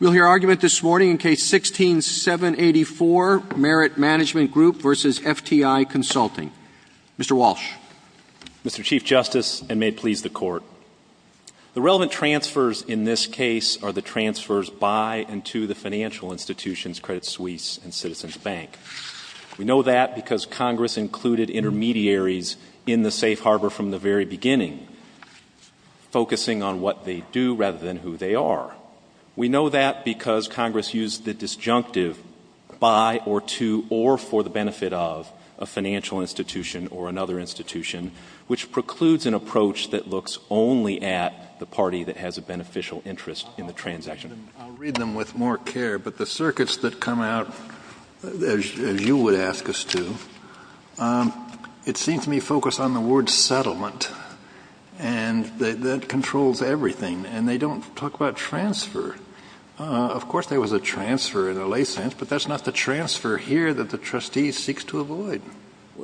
We'll hear argument this morning in Case 16-784, Merit Management Group v. FTI Consulting. Mr. Walsh. Mr. Chief Justice, and may it please the Court, the relevant transfers in this case are the transfers by and to the financial institutions Credit Suisse and Citizens Bank. We know that because Congress included intermediaries in the safe harbor from the very beginning, focusing on what they do rather than who they are. We know that because Congress used the disjunctive by or to or for the benefit of a financial institution or another institution, which precludes an approach that looks only at the party that has a beneficial interest in the transaction. I'll read them with more care, but the circuits that come out, as you would ask us to, it seems to me focus on the word settlement. And that controls everything. And they don't talk about transfer. Of course there was a transfer in a lay sense, but that's not the transfer here that the trustee seeks to avoid.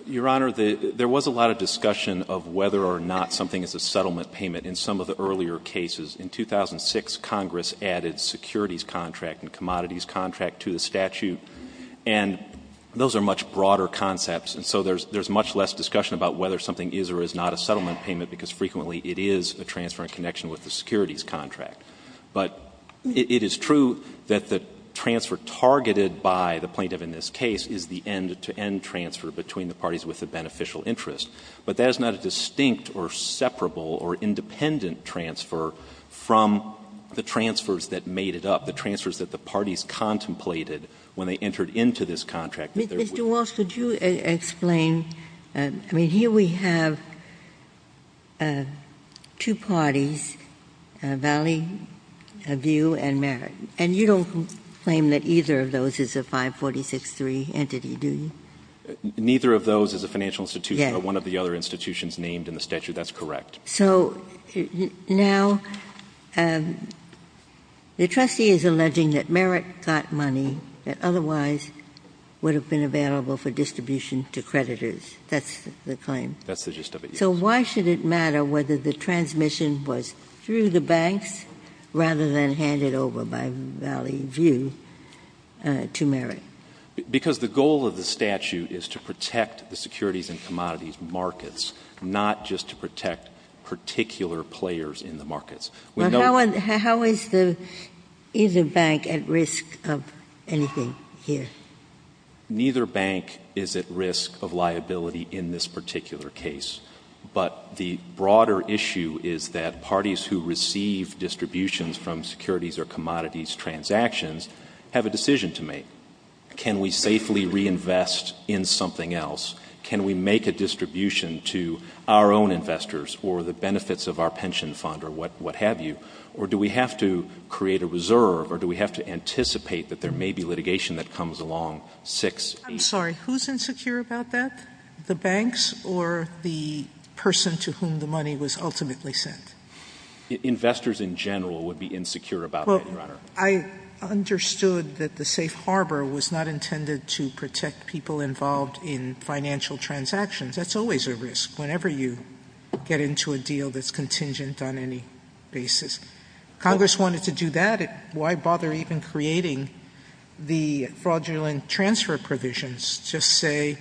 Your Honor, there was a lot of discussion of whether or not something is a settlement payment in some of the earlier cases. In 2006, Congress added securities contract and commodities contract to the statute. And those are much broader concepts. And so there's much less discussion about whether something is or is not a settlement payment, because frequently it is a transfer in connection with the securities contract. But it is true that the transfer targeted by the plaintiff in this case is the end-to-end transfer between the parties with a beneficial interest. But that is not a distinct or separable or independent transfer from the transfers that made it up, the transfers that the parties contemplated when they entered into this contract. Ginsburg. Mr. Walsh, could you explain? I mean, here we have two parties, Valleyview and Merritt. And you don't claim that either of those is a 546.3 entity, do you? Neither of those is a financial institution, but one of the other institutions named in the statute. That's correct. So now the trustee is alleging that Merritt got money that otherwise would have been available for distribution to creditors. That's the claim. That's the gist of it, yes. So why should it matter whether the transmission was through the banks rather than handed over by Valleyview to Merritt? Not just to protect particular players in the markets. How is either bank at risk of anything here? Neither bank is at risk of liability in this particular case. But the broader issue is that parties who receive distributions from securities or commodities transactions have a decision to make. Can we safely reinvest in something else? Can we make a distribution to our own investors or the benefits of our pension fund or what have you? Or do we have to create a reserve or do we have to anticipate that there may be litigation that comes along 6-8? I'm sorry. Who's insecure about that, the banks or the person to whom the money was ultimately sent? Investors in general would be insecure about that, Your Honor. Well, I understood that the safe harbor was not intended to protect people involved in financial transactions. That's always a risk whenever you get into a deal that's contingent on any basis. Congress wanted to do that. Why bother even creating the fraudulent transfer provisions to say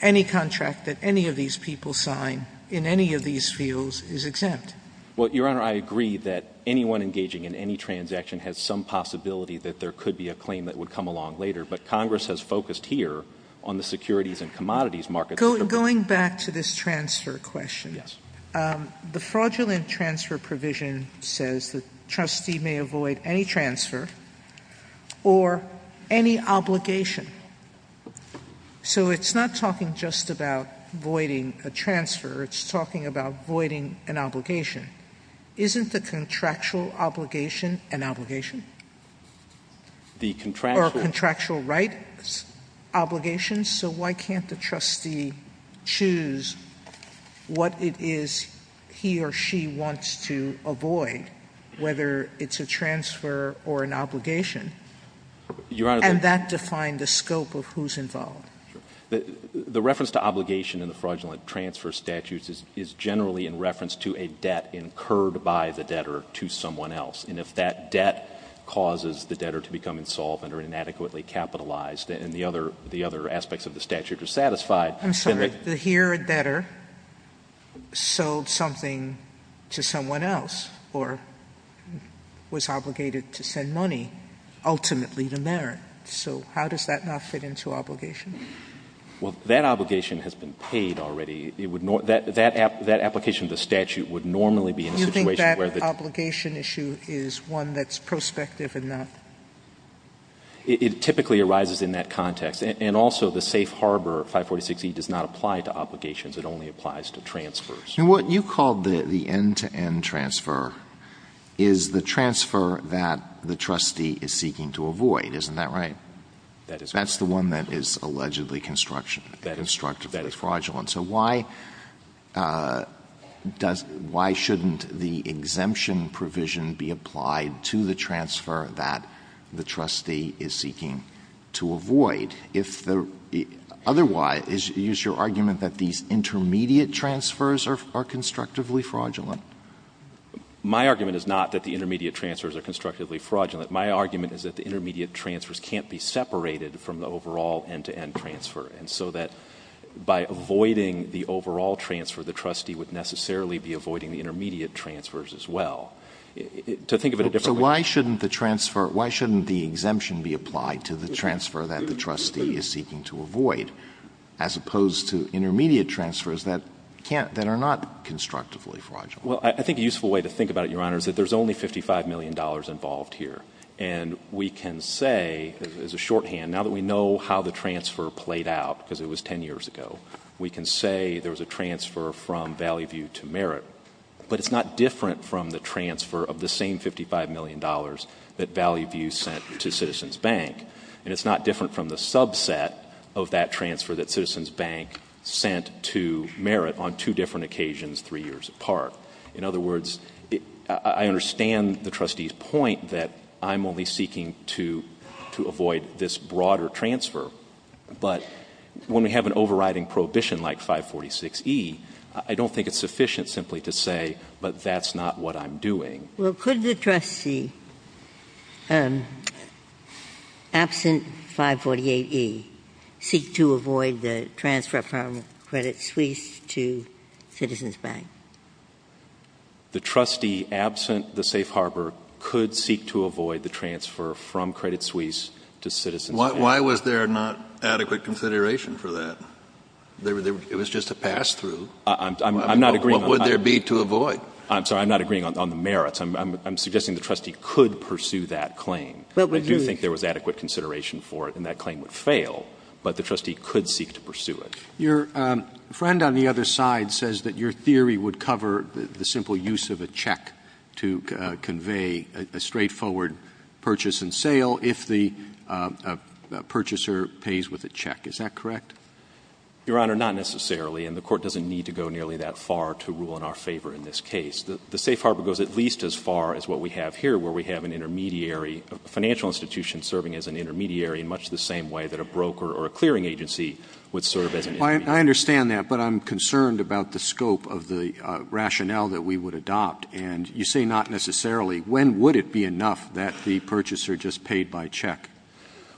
any contract that any of these people sign in any of these fields is exempt? Well, Your Honor, I agree that anyone engaging in any transaction has some possibility that there could be a claim that would come along later. But Congress has focused here on the securities and commodities markets. Going back to this transfer question. Yes. The fraudulent transfer provision says the trustee may avoid any transfer or any obligation. So it's not talking just about voiding a transfer. It's talking about voiding an obligation. Isn't the contractual obligation an obligation? Or a contractual rights obligation? So why can't the trustee choose what it is he or she wants to avoid, whether it's a transfer or an obligation? And that defined the scope of who's involved. Sure. The reference to obligation in the fraudulent transfer statutes is generally in reference to a debt incurred by the debtor to someone else. And if that debt causes the debtor to become insolvent or inadequately capitalized and the other aspects of the statute are satisfied. I'm sorry. Here a debtor sold something to someone else or was obligated to send money, ultimately to merit. So how does that not fit into obligation? Well, that obligation has been paid already. That application of the statute would normally be in a situation where the. Obligation issue is one that's prospective and not. It typically arises in that context. And also the safe harbor 546E does not apply to obligations. It only applies to transfers. And what you called the end-to-end transfer is the transfer that the trustee is seeking to avoid. Isn't that right? That is right. That's the one that is allegedly constructionally fraudulent. So why shouldn't the exemption provision be applied to the transfer that the trustee is seeking to avoid? Otherwise, is your argument that these intermediate transfers are constructively fraudulent? My argument is not that the intermediate transfers are constructively fraudulent. My argument is that the intermediate transfers can't be separated from the overall end-to-end transfer. And so that by avoiding the overall transfer, the trustee would necessarily be avoiding the intermediate transfers as well. To think of it a different way. So why shouldn't the transfer, why shouldn't the exemption be applied to the transfer that the trustee is seeking to avoid, as opposed to intermediate transfers that can't, that are not constructively fraudulent? Well, I think a useful way to think about it, Your Honor, is that there's only $55 million involved here. And we can say, as a shorthand, now that we know how the transfer played out, because it was 10 years ago, we can say there was a transfer from Valley View to Merritt. But it's not different from the transfer of the same $55 million that Valley View sent to Citizens Bank. And it's not different from the subset of that transfer that Citizens Bank sent to Merritt on two different occasions three years apart. In other words, I understand the trustee's point that I'm only seeking to avoid this broader transfer. But when we have an overriding prohibition like 546e, I don't think it's sufficient simply to say, but that's not what I'm doing. Well, could the trustee, absent 548e, seek to avoid the transfer from Credit Suisse to Citizens Bank? The trustee, absent the safe harbor, could seek to avoid the transfer from Credit Suisse to Citizens Bank. Why was there not adequate consideration for that? It was just a pass-through. I'm not agreeing on that. What would there be to avoid? I'm sorry. I'm not agreeing on the merits. I'm suggesting the trustee could pursue that claim. I do think there was adequate consideration for it, and that claim would fail. But the trustee could seek to pursue it. Your friend on the other side says that your theory would cover the simple use of a check to convey a straightforward purchase and sale if the purchaser pays with a check. Is that correct? Your Honor, not necessarily. And the Court doesn't need to go nearly that far to rule in our favor in this case. The safe harbor goes at least as far as what we have here, where we have an intermediary, a financial institution serving as an intermediary in much the same way that a broker or a clearing agency would serve as an intermediary. I understand that, but I'm concerned about the scope of the rationale that we would adopt. And you say not necessarily. When would it be enough that the purchaser just paid by check?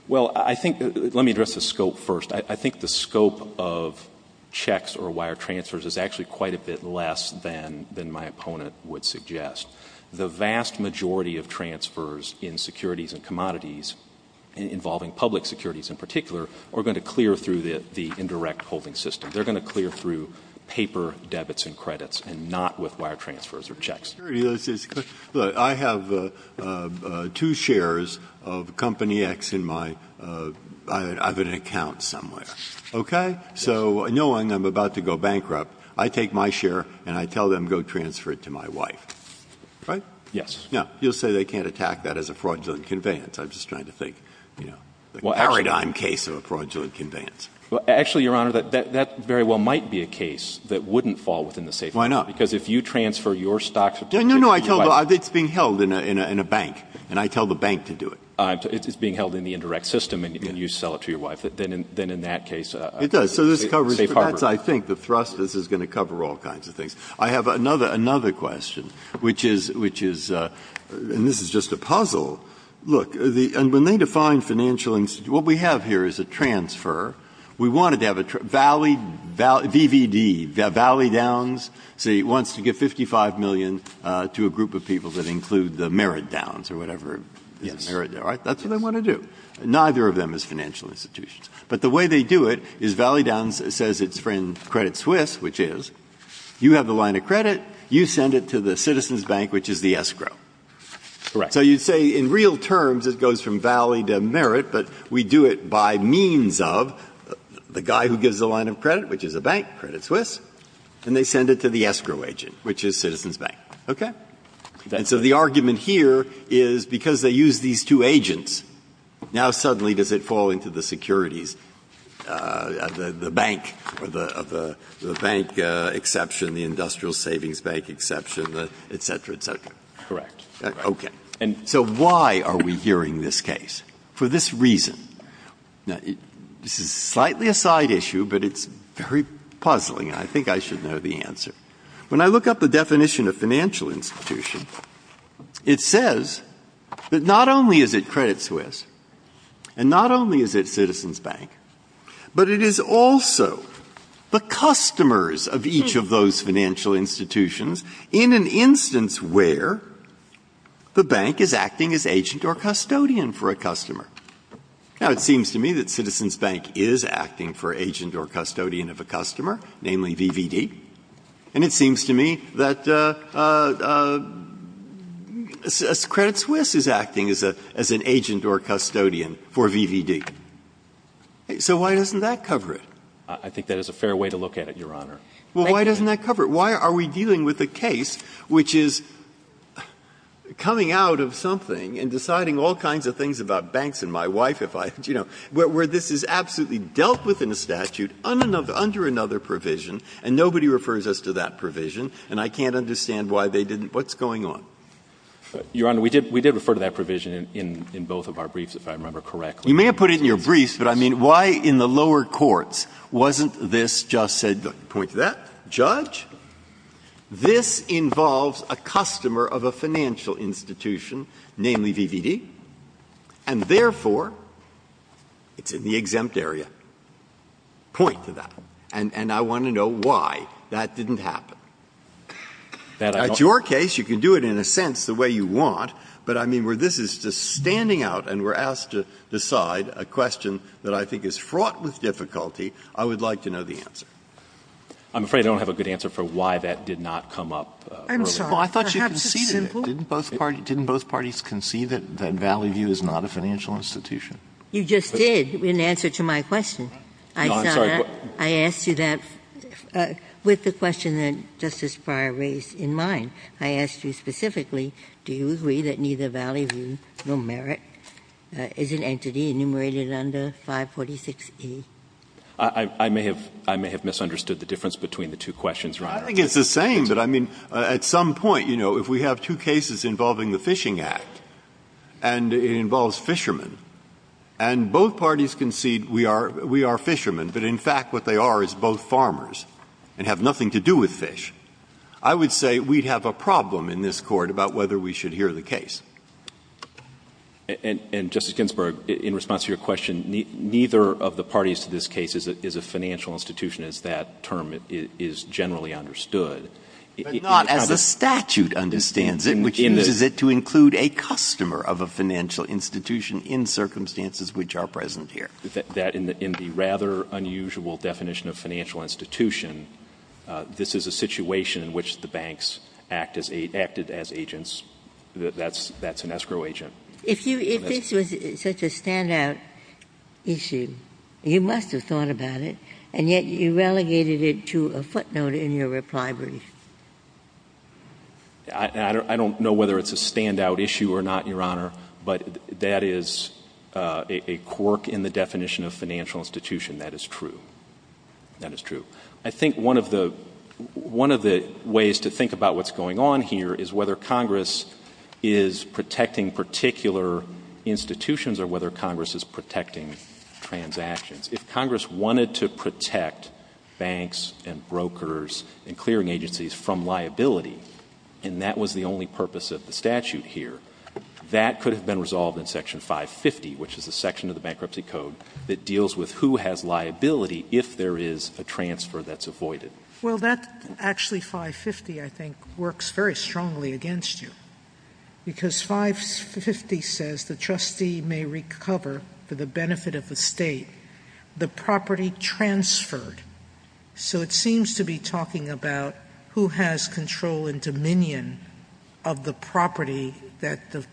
Well, I think — let me address the scope first. I think the scope of checks or wire transfers is actually quite a bit less than my opponent would suggest. The vast majority of transfers in securities and commodities involving public securities in particular are going to clear through the indirect holding system. They're going to clear through paper debits and credits and not with wire transfers or checks. Breyer, I have two shares of Company X in my — I have an account somewhere. Okay? So knowing I'm about to go bankrupt, I take my share and I tell them go transfer it to my wife. Right? Yes. Now, you'll say they can't attack that as a fraudulent conveyance. I'm just trying to think, you know. The paradigm case of a fraudulent conveyance. Well, actually, Your Honor, that very well might be a case that wouldn't fall within the safe harbor. Why not? Because if you transfer your stock to your wife. No, no, no. It's being held in a bank, and I tell the bank to do it. It's being held in the indirect system, and you sell it to your wife. Then in that case, a safe harbor. It does. So this covers — that's, I think, the thrust. This is going to cover all kinds of things. I have another question, which is — and this is just a puzzle. Look, and when they define financial — what we have here is a transfer. We want it to have a — VVD, Valley Downs. See, it wants to give $55 million to a group of people that include the Merit Downs or whatever. Yes. Right? That's what they want to do. Neither of them is financial institutions. But the way they do it is Valley Downs says it's in Credit Suisse, which is, you have the line of credit. You send it to the Citizens Bank, which is the escrow. Correct. So you'd say in real terms it goes from Valley to Merit, but we do it by means of the guy who gives the line of credit, which is a bank, Credit Suisse, and they send it to the escrow agent, which is Citizens Bank. Okay? And so the argument here is because they use these two agents, now suddenly does it fall into the securities, the bank, or the bank exception, the Industrial Savings Bank exception, et cetera, et cetera. And so why are we hearing this case? For this reason. Now, this is slightly a side issue, but it's very puzzling. I think I should know the answer. When I look up the definition of financial institution, it says that not only is it Credit Suisse and not only is it Citizens Bank, but it is also the customers of each of those financial institutions in an instance where the bank is acting as agent or custodian for a customer. Now, it seems to me that Citizens Bank is acting for agent or custodian of a customer, namely VVD, and it seems to me that Credit Suisse is acting as an agent or custodian for VVD. So why doesn't that cover it? I think that is a fair way to look at it, Your Honor. Breyer. Well, why doesn't that cover it? Why are we dealing with a case which is coming out of something and deciding all kinds of things about banks and my wife if I, you know, where this is absolutely dealt with in a statute under another provision and nobody refers us to that provision and I can't understand why they didn't? What's going on? Your Honor, we did refer to that provision in both of our briefs, if I remember correctly. You may have put it in your briefs, but I mean, why in the lower courts wasn't this just said, look, point to that, judge. This involves a customer of a financial institution, namely VVD, and therefore it's in the exempt area. Point to that. And I want to know why that didn't happen. In your case, you can do it in a sense the way you want, but I mean, where this is just standing out and we're asked to decide a question that I think is fraught with difficulty, I would like to know the answer. I'm afraid I don't have a good answer for why that did not come up earlier. I thought you conceded it. Didn't both parties concede that Valley View is not a financial institution? You just did, in answer to my question. No, I'm sorry. I asked you that with the question that Justice Breyer raised in mind. I asked you specifically, do you agree that neither Valley View nor Merit is an entity enumerated under 546E? I may have misunderstood the difference between the two questions, Your Honor. I think it's the same, but I mean, at some point, you know, if we have two cases involving the Fishing Act, and it involves fishermen, and both parties concede we are fishermen, but in fact what they are is both farmers and have nothing to do with fish. I would say we'd have a problem in this Court about whether we should hear the case. And, Justice Ginsburg, in response to your question, neither of the parties to this case is a financial institution as that term is generally understood. But not as the statute understands it, which uses it to include a customer of a financial institution in circumstances which are present here. That in the rather unusual definition of financial institution, this is a situation in which the banks act as agents. That's an escrow agent. If this was such a standout issue, you must have thought about it, and yet you relegated it to a footnote in your reply brief. I don't know whether it's a standout issue or not, Your Honor, but that is a quirk in the definition of financial institution. That is true. That is true. I think one of the ways to think about what's going on here is whether Congress is protecting particular institutions or whether Congress is protecting transactions. If Congress wanted to protect banks and brokers and clearing agencies from liability, and that was the only purpose of the statute here, that could have been resolved in Section 550, which is a section of the Bankruptcy Code that deals with who has liability if there is a transfer that's avoided. Well, that actually, 550, I think, works very strongly against you, because 550 says the trustee may recover for the benefit of the State the property transferred. So it seems to be talking about who has control and dominion of the property that the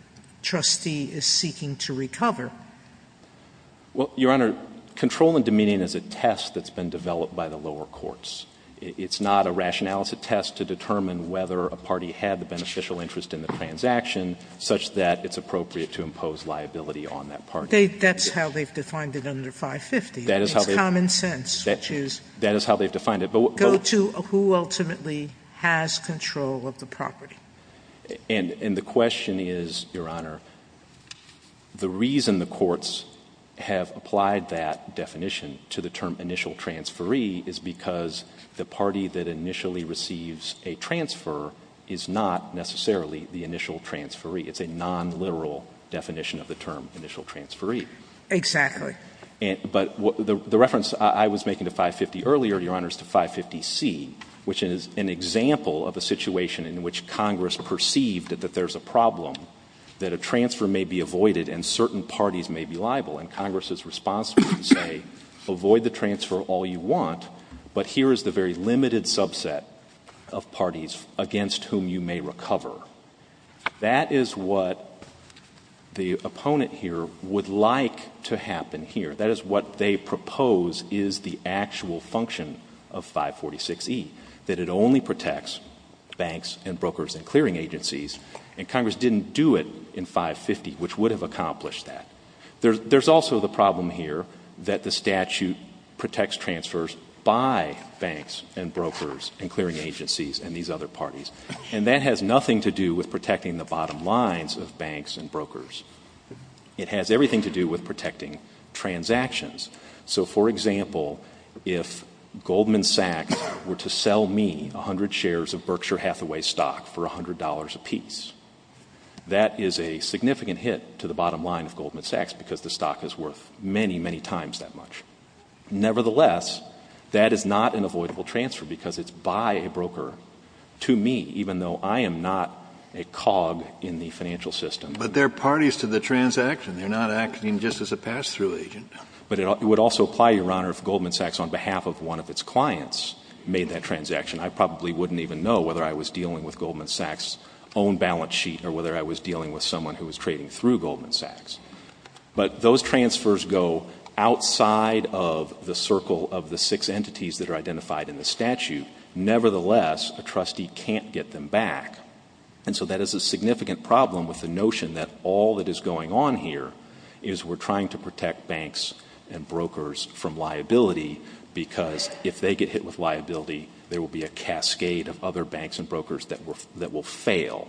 trustee is seeking to recover. Well, Your Honor, control and dominion is a test that's been developed by the lower courts. It's not a rationality test to determine whether a party had the beneficial interest in the transaction, such that it's appropriate to impose liability on that party. That's how they've defined it under 550. That is how they've defined it. It's common sense, which is go to who ultimately has control of the property. And the question is, Your Honor, the reason the courts have applied that definition to the term initial transferee is because the party that initially receives a transfer is not necessarily the initial transferee. It's a nonliteral definition of the term initial transferee. Exactly. But the reference I was making to 550 earlier, Your Honor, is to 550C, which is an example of a situation in which Congress perceived that there's a problem, that a transfer may be avoided and certain parties may be liable. And Congress is responsible to say, avoid the transfer all you want, but here is the very limited subset of parties against whom you may recover. That is what the opponent here would like to happen here. That is what they propose is the actual function of 546E, that it only protects banks and brokers and clearing agencies. And Congress didn't do it in 550, which would have accomplished that. There's also the problem here that the statute protects transfers by banks and brokers and clearing agencies and these other parties. And that has nothing to do with protecting the bottom lines of banks and brokers. It has everything to do with protecting transactions. So, for example, if Goldman Sachs were to sell me 100 shares of Berkshire Hathaway stock for $100 apiece, that is a significant hit to the bottom line of Goldman Sachs because the stock is worth many, many times that much. Nevertheless, that is not an avoidable transfer because it's by a broker to me, even though I am not a cog in the financial system. But they're parties to the transaction. They're not acting just as a pass-through agent. But it would also apply, Your Honor, if Goldman Sachs on behalf of one of its clients made that transaction. I probably wouldn't even know whether I was dealing with Goldman Sachs' own balance sheet or whether I was dealing with someone who was trading through Goldman Sachs. But those transfers go outside of the circle of the six entities that are identified in the statute. Nevertheless, a trustee can't get them back. And so that is a significant problem with the notion that all that is going on here is we're trying to protect banks and brokers from liability because if they get hit with liability, there will be a cascade of other banks and brokers that will fail.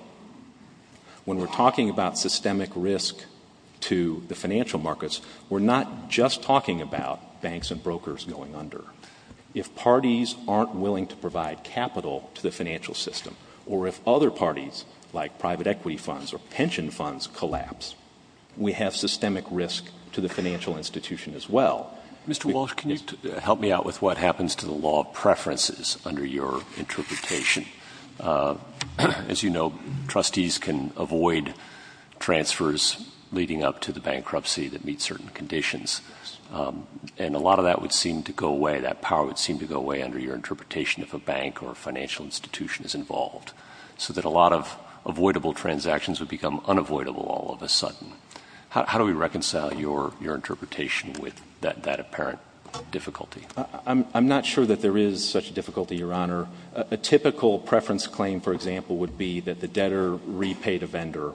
When we're talking about systemic risk to the financial markets, we're not just talking about banks and brokers going under. If parties aren't willing to provide capital to the financial system or if other parties like private equity funds or pension funds collapse, we have systemic risk to the financial institution as well. Mr. Walsh, can you help me out with what happens to the law of preferences under your interpretation? As you know, trustees can avoid transfers leading up to the bankruptcy that meet certain conditions. And a lot of that would seem to go away, that power would seem to go away under your interpretation if a bank or financial institution is involved. So that a lot of avoidable transactions would become unavoidable all of a sudden. How do we reconcile your interpretation with that apparent difficulty? I'm not sure that there is such a difficulty, Your Honor. A typical preference claim, for example, would be that the debtor repaid a vendor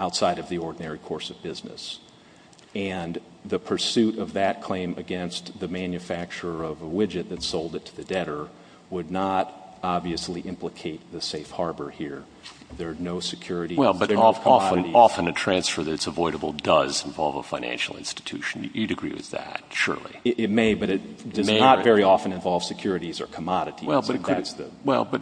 outside of the ordinary course of business. And the pursuit of that claim against the manufacturer of a widget that sold it to the debtor would not obviously implicate the safe harbor here. There are no securities. Well, but often a transfer that's avoidable does involve a financial institution. You'd agree with that, surely. It may, but it does not very often involve securities or commodities. Well, but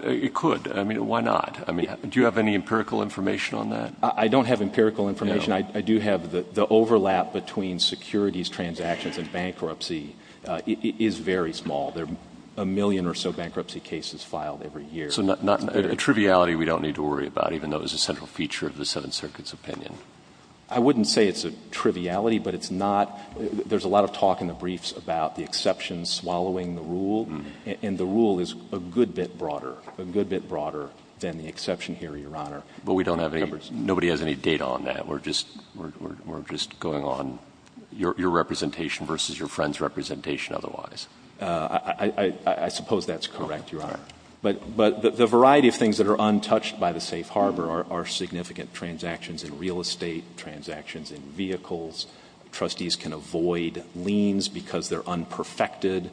it could. I mean, why not? Do you have any empirical information on that? I don't have empirical information. I do have the overlap between securities transactions and bankruptcy is very small. There are a million or so bankruptcy cases filed every year. So a triviality we don't need to worry about, even though it's a central feature of the Seventh Circuit's opinion. I wouldn't say it's a triviality, but it's not. There's a lot of talk in the briefs about the exception swallowing the rule. And the rule is a good bit broader, a good bit broader than the exception here, Your Honor. But we don't have any, nobody has any data on that. We're just going on your representation versus your friend's representation otherwise. I suppose that's correct, Your Honor. But the variety of things that are untouched by the safe harbor are significant transactions in real estate, transactions in vehicles. Trustees can avoid liens because they're unperfected.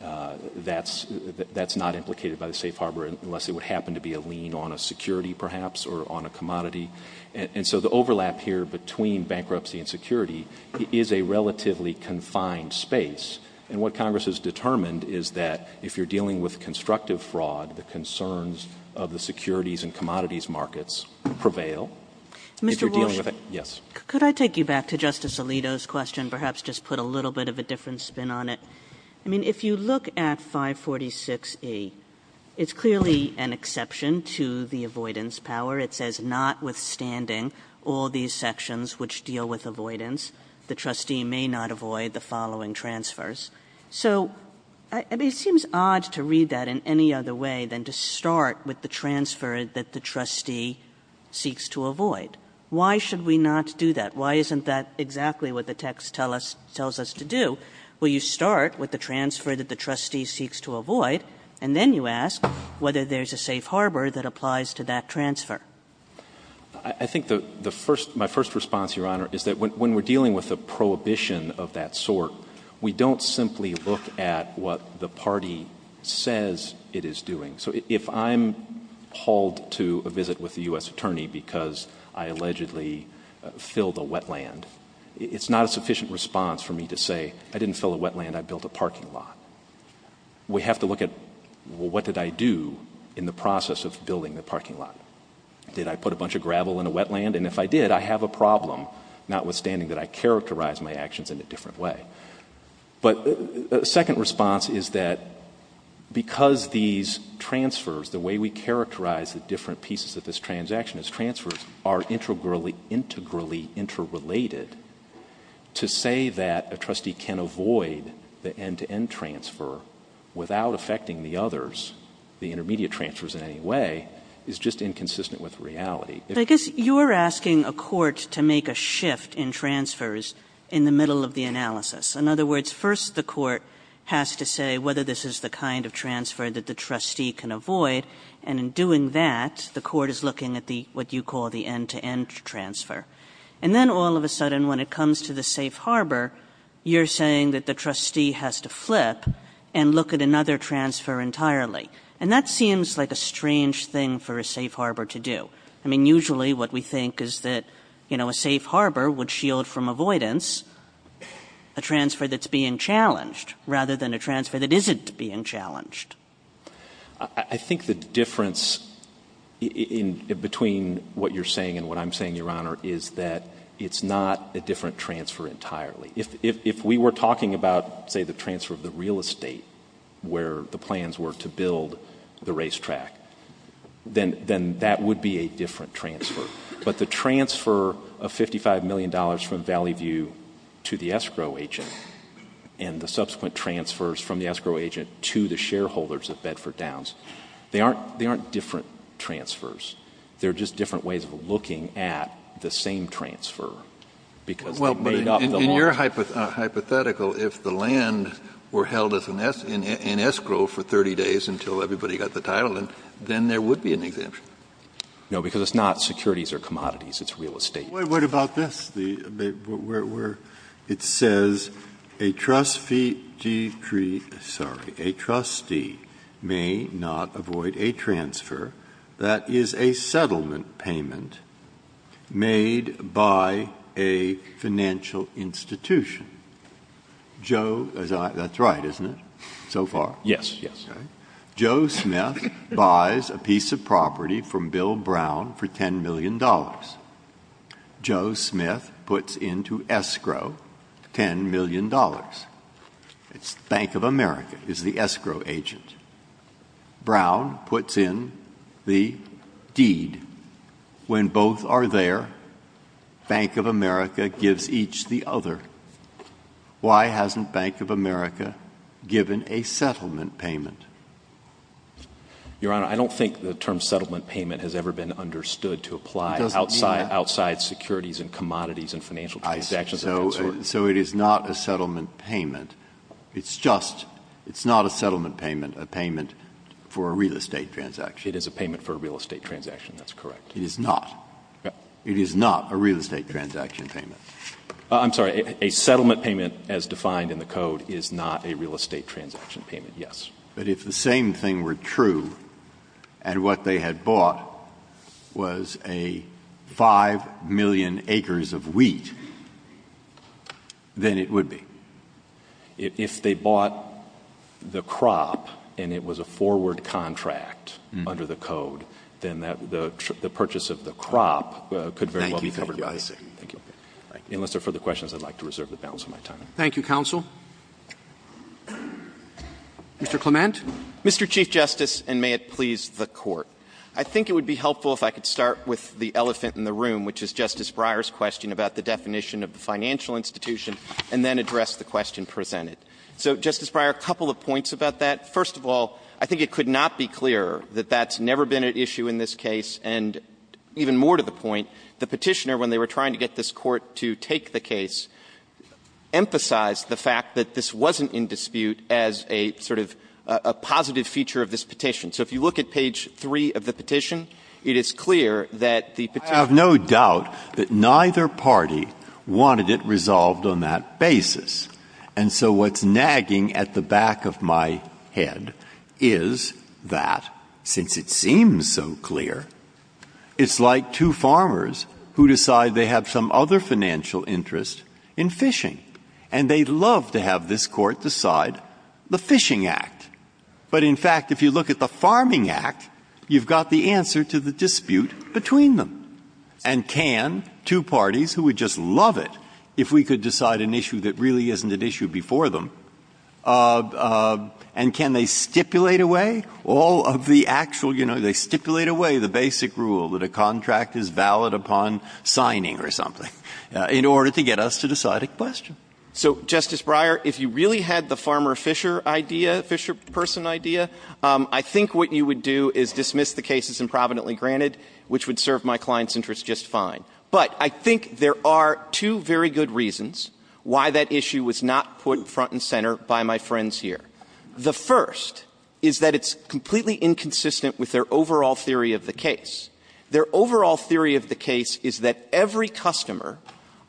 That's not implicated by the safe harbor unless it would happen to be a lien on a security perhaps or on a commodity. And so the overlap here between bankruptcy and security is a relatively confined space. And what Congress has determined is that if you're dealing with constructive fraud, the concerns of the securities and commodities markets prevail. Mr. Walsh. Yes. Could I take you back to Justice Alito's question? Perhaps just put a little bit of a different spin on it. I mean, if you look at 546E, it's clearly an exception to the avoidance power. It says, notwithstanding all these sections which deal with avoidance, the trustee may not avoid the following transfers. So, I mean, it seems odd to read that in any other way than to start with the transfer that the trustee seeks to avoid. Why should we not do that? Why isn't that exactly what the text tells us to do? Will you start with the transfer that the trustee seeks to avoid, and then you ask whether there's a safe harbor that applies to that transfer? I think my first response, Your Honor, is that when we're dealing with a prohibition of that sort, we don't simply look at what the party says it is doing. So if I'm hauled to a visit with a U.S. attorney because I allegedly filled a wetland, it's not a sufficient response for me to say, I didn't fill a wetland, I built a parking lot. We have to look at, well, what did I do in the process of building the parking lot? Did I put a bunch of gravel in a wetland? And if I did, I have a problem, notwithstanding that I characterize my actions in a different way. But a second response is that because these transfers, the way we characterize the different pieces of this transaction as transfers, are integrally interrelated, to say that a trustee can avoid the end-to-end transfer without affecting the others, the intermediate transfers in any way, is just inconsistent with reality. I guess you're asking a court to make a shift in transfers in the middle of the analysis. In other words, first the court has to say whether this is the kind of transfer that the trustee can avoid, and in doing that, the court is looking at what you call the end-to-end transfer. And then all of a sudden, when it comes to the safe harbor, you're saying that the trustee has to flip and look at another transfer entirely. And that seems like a strange thing for a safe harbor to do. I mean, usually what we think is that a safe harbor would shield from avoidance a transfer that's being challenged, rather than a transfer that isn't being challenged. I think the difference between what you're saying and what I'm saying, Your Honor, is that it's not a different transfer entirely. If we were talking about, say, the transfer of the real estate, where the plans were to build the racetrack, then that would be a different transfer. But the transfer of $55 million from Valley View to the escrow agent and the subsequent transfers from the escrow agent to the shareholders of Bedford Downs, they aren't different transfers. They're just different ways of looking at the same transfer. Because they've made up the law. In your hypothetical, if the land were held in escrow for 30 days until everybody got the title, then there would be an exemption. No, because it's not securities or commodities. It's real estate. What about this? It says, a trustee may not avoid a transfer that is a settlement payment made by a financial institution. That's right, isn't it, so far? Yes. Joe Smith buys a piece of property from Bill Brown for $10 million. Joe Smith puts into escrow $10 million. Bank of America is the escrow agent. Brown puts in the deed. When both are there, Bank of America gives each the other. Why hasn't Bank of America given a settlement payment? Your Honor, I don't think the term settlement payment has ever been understood to apply outside securities and commodities and financial transactions. So it is not a settlement payment. It's just it's not a settlement payment, a payment for a real estate transaction. It is a payment for a real estate transaction. That's correct. It is not. It is not a real estate transaction payment. I'm sorry. A settlement payment, as defined in the code, is not a real estate transaction payment. Yes. But if the same thing were true and what they had bought was a 5 million acres of wheat, then it would be. If they bought the crop and it was a forward contract under the code, then the purchase of the crop could very well be covered. Thank you. Unless there are further questions, I would like to reserve the balance of my time. Thank you, counsel. Mr. Clement. Mr. Chief Justice, and may it please the Court. I think it would be helpful if I could start with the elephant in the room, which is Justice Breyer's question about the definition of the financial institution, and then address the question presented. So, Justice Breyer, a couple of points about that. First of all, I think it could not be clearer that that's never been at issue in this case. And even more to the point, the Petitioner, when they were trying to get this Court to take the case, emphasized the fact that this wasn't in dispute as a sort of a positive feature of this petition. So if you look at page 3 of the petition, it is clear that the Petitioner I have no doubt that neither party wanted it resolved on that basis. And so what's nagging at the back of my head is that since it seems so clear, it's like two farmers who decide they have some other financial interest in fishing. And they'd love to have this Court decide the Fishing Act. But in fact, if you look at the Farming Act, you've got the answer to the dispute between them. And can two parties who would just love it if we could decide an issue that really isn't at issue before them, and can they stipulate a way? All of the actual, you know, they stipulate a way, the basic rule that a contract is valid upon signing or something, in order to get us to decide a question. So, Justice Breyer, if you really had the farmer-fisher idea, fisher-person idea, I think what you would do is dismiss the case as improvidently granted, which would serve my client's interest just fine. But I think there are two very good reasons why that issue was not put front and center by my friends here. The first is that it's completely inconsistent with their overall theory of the case. Their overall theory of the case is that every customer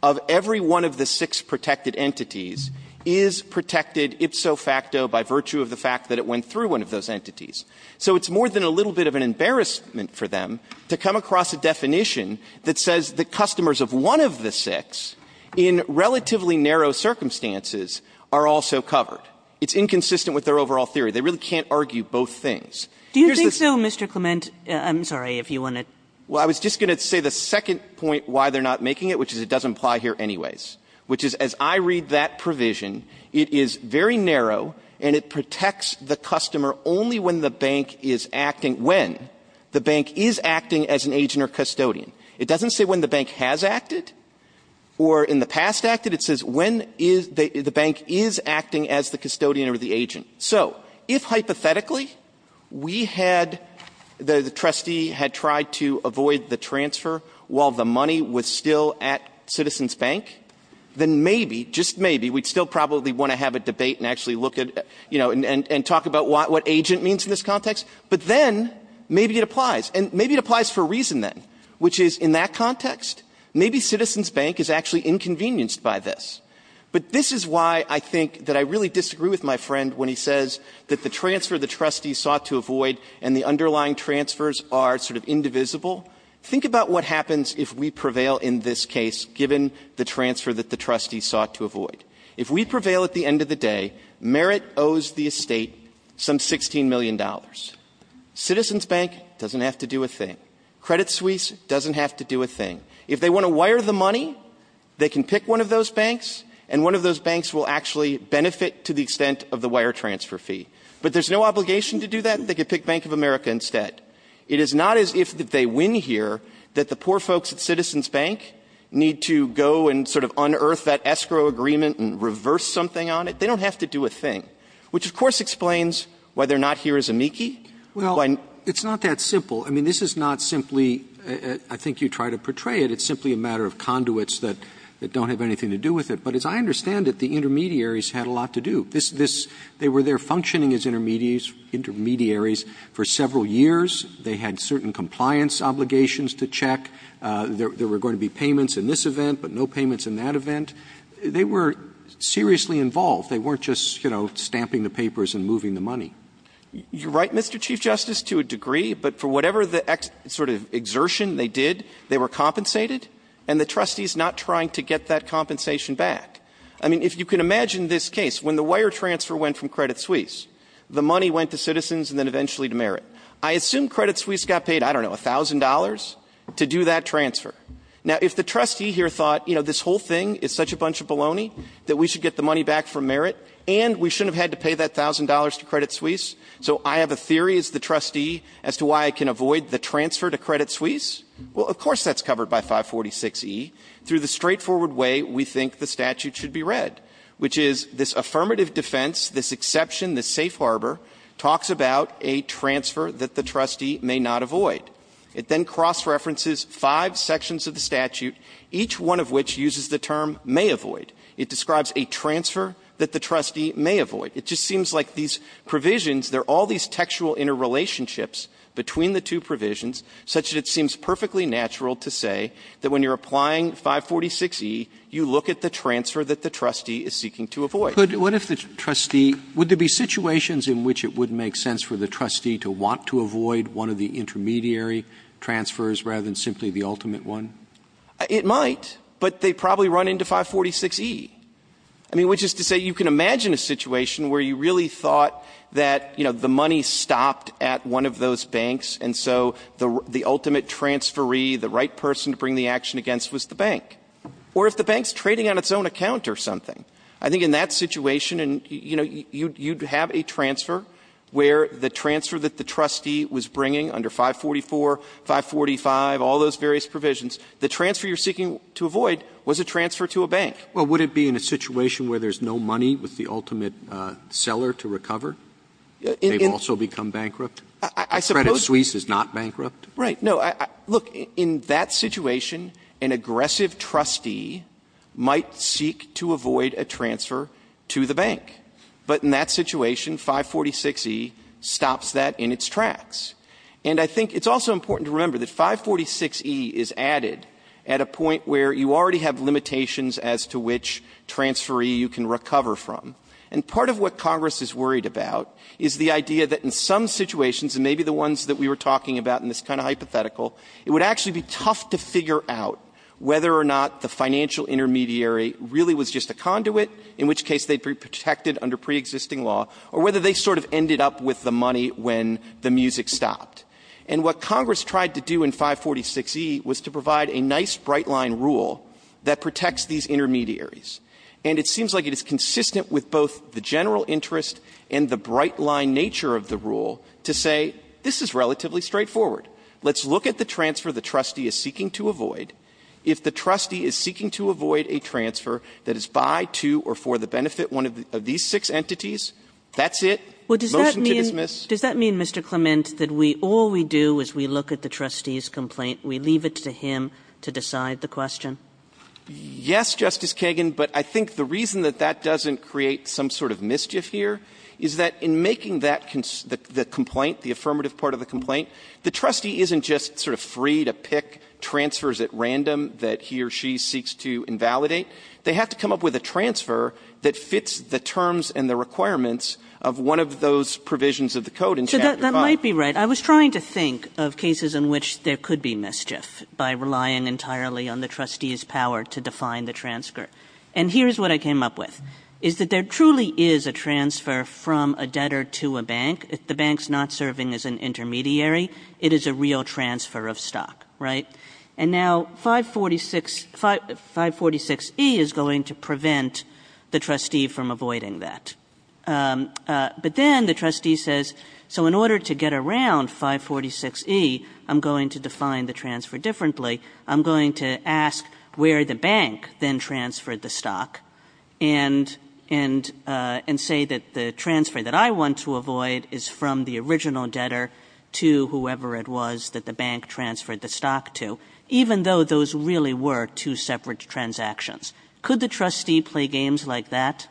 of every one of the six protected entities is protected ipso facto by virtue of the fact that it went through one of those entities. So it's more than a little bit of an embarrassment for them to come across a definition that says the customers of one of the six in relatively narrow circumstances are also covered. It's inconsistent with their overall theory. They really can't argue both things. Here's the thing. Kagan Do you think so, Mr. Clement? I'm sorry, if you want to. Clement Well, I was just going to say the second point why they're not making it, which is it doesn't apply here anyways, which is, as I read that provision, it is very narrow, and it protects the customer only when the bank is acting when the bank is acting as an agent or custodian. It doesn't say when the bank has acted or in the past acted. It says when the bank is acting as the custodian or the agent. So if, hypothetically, we had, the trustee had tried to avoid the transfer while the money was still at Citizens Bank, then maybe, just maybe, we'd still probably want to have a debate and actually look at, you know, and talk about what agent means in this context. But then maybe it applies. And maybe it applies for a reason, then, which is, in that context, maybe Citizens Bank is actually inconvenienced by this. But this is why I think that I really disagree with my friend when he says that the transfer the trustee sought to avoid and the underlying transfers are sort of indivisible. Think about what happens if we prevail in this case, given the transfer that the trustee sought to avoid. If we prevail at the end of the day, Merit owes the estate some $16 million. Citizens Bank doesn't have to do a thing. Credit Suisse doesn't have to do a thing. If they want to wire the money, they can pick one of those banks, and one of those banks will actually benefit to the extent of the wire transfer fee. But there's no obligation to do that. They could pick Bank of America instead. It is not as if they win here that the poor folks at Citizens Bank need to go and sort of unearth that escrow agreement and reverse something on it. They don't have to do a thing. Which, of course, explains whether or not here is amici. Roberts. Well, it's not that simple. I mean, this is not simply – I think you try to portray it. It's simply a matter of conduits that don't have anything to do with it. But as I understand it, the intermediaries had a lot to do. This – they were there functioning as intermediaries for several years. They had certain compliance obligations to check. There were going to be payments in this event, but no payments in that event. They were seriously involved. They weren't just, you know, stamping the papers and moving the money. You're right, Mr. Chief Justice, to a degree. But for whatever the sort of exertion they did, they were compensated, and the trustee is not trying to get that compensation back. I mean, if you can imagine this case, when the wire transfer went from Credit Suisse, the money went to Citizens and then eventually to Merit. I assume Credit Suisse got paid, I don't know, $1,000 to do that transfer. Now, if the trustee here thought, you know, this whole thing is such a bunch of baloney that we should get the money back from Merit, and we shouldn't have had to pay that $1,000 to Credit Suisse, so I have a theory as the trustee as to why I can avoid the transfer to Credit Suisse, well, of course that's covered by 546e through the straightforward way we think the statute should be read, which is this affirmative defense, this exception, this safe harbor talks about a transfer that the trustee may not avoid. It then cross-references five sections of the statute, each one of which uses the word may avoid. It describes a transfer that the trustee may avoid. It just seems like these provisions, they're all these textual interrelationships between the two provisions, such that it seems perfectly natural to say that when you're applying 546e, you look at the transfer that the trustee is seeking to avoid. Roberts. What if the trustee – would there be situations in which it would make sense for the trustee to want to avoid one of the intermediary transfers rather than simply the ultimate one? It might. But they probably run into 546e. I mean, which is to say you can imagine a situation where you really thought that, you know, the money stopped at one of those banks, and so the ultimate transferee, the right person to bring the action against was the bank. Or if the bank's trading on its own account or something, I think in that situation and, you know, you'd have a transfer where the transfer that the trustee was bringing under 544, 545, all those various provisions, the transfer you're seeking to avoid was a transfer to a bank. Well, would it be in a situation where there's no money with the ultimate seller to recover? They've also become bankrupt? Credit Suisse is not bankrupt? Right. No. Look, in that situation, an aggressive trustee might seek to avoid a transfer to the bank. But in that situation, 546e stops that in its tracks. And I think it's also important to remember that 546e is added at a point where you already have limitations as to which transferee you can recover from. And part of what Congress is worried about is the idea that in some situations and maybe the ones that we were talking about in this kind of hypothetical, it would actually be tough to figure out whether or not the financial intermediary really was just a conduit, in which case they'd be protected under preexisting law, or whether they sort of ended up with the money when the music stopped. And what Congress tried to do in 546e was to provide a nice bright-line rule that protects these intermediaries. And it seems like it is consistent with both the general interest and the bright-line nature of the rule to say, this is relatively straightforward. Let's look at the transfer the trustee is seeking to avoid. If the trustee is seeking to avoid a transfer that is by, to, or for the benefit of one of these six entities, that's it. Motion to dismiss. Kagan, does that mean, Mr. Clement, that all we do as we look at the trustee's complaint, we leave it to him to decide the question? Clement, yes, Justice Kagan. But I think the reason that that doesn't create some sort of mischief here is that in making that the complaint, the affirmative part of the complaint, the trustee isn't just sort of free to pick transfers at random that he or she seeks to invalidate. They have to come up with a transfer that fits the terms and the requirements of one of those provisions of the code in Chapter 5. So that might be right. I was trying to think of cases in which there could be mischief by relying entirely on the trustee's power to define the transfer. And here's what I came up with, is that there truly is a transfer from a debtor to a bank. The bank's not serving as an intermediary. It is a real transfer of stock, right? And now 546E is going to prevent the trustee from avoiding that. But then the trustee says, so in order to get around 546E, I'm going to define the transfer differently. I'm going to ask where the bank then transferred the stock and say that the transfer that I want to avoid is from the original debtor to whoever it was that the bank transferred the stock to, even though those really were two separate transactions. Could the trustee play games like that?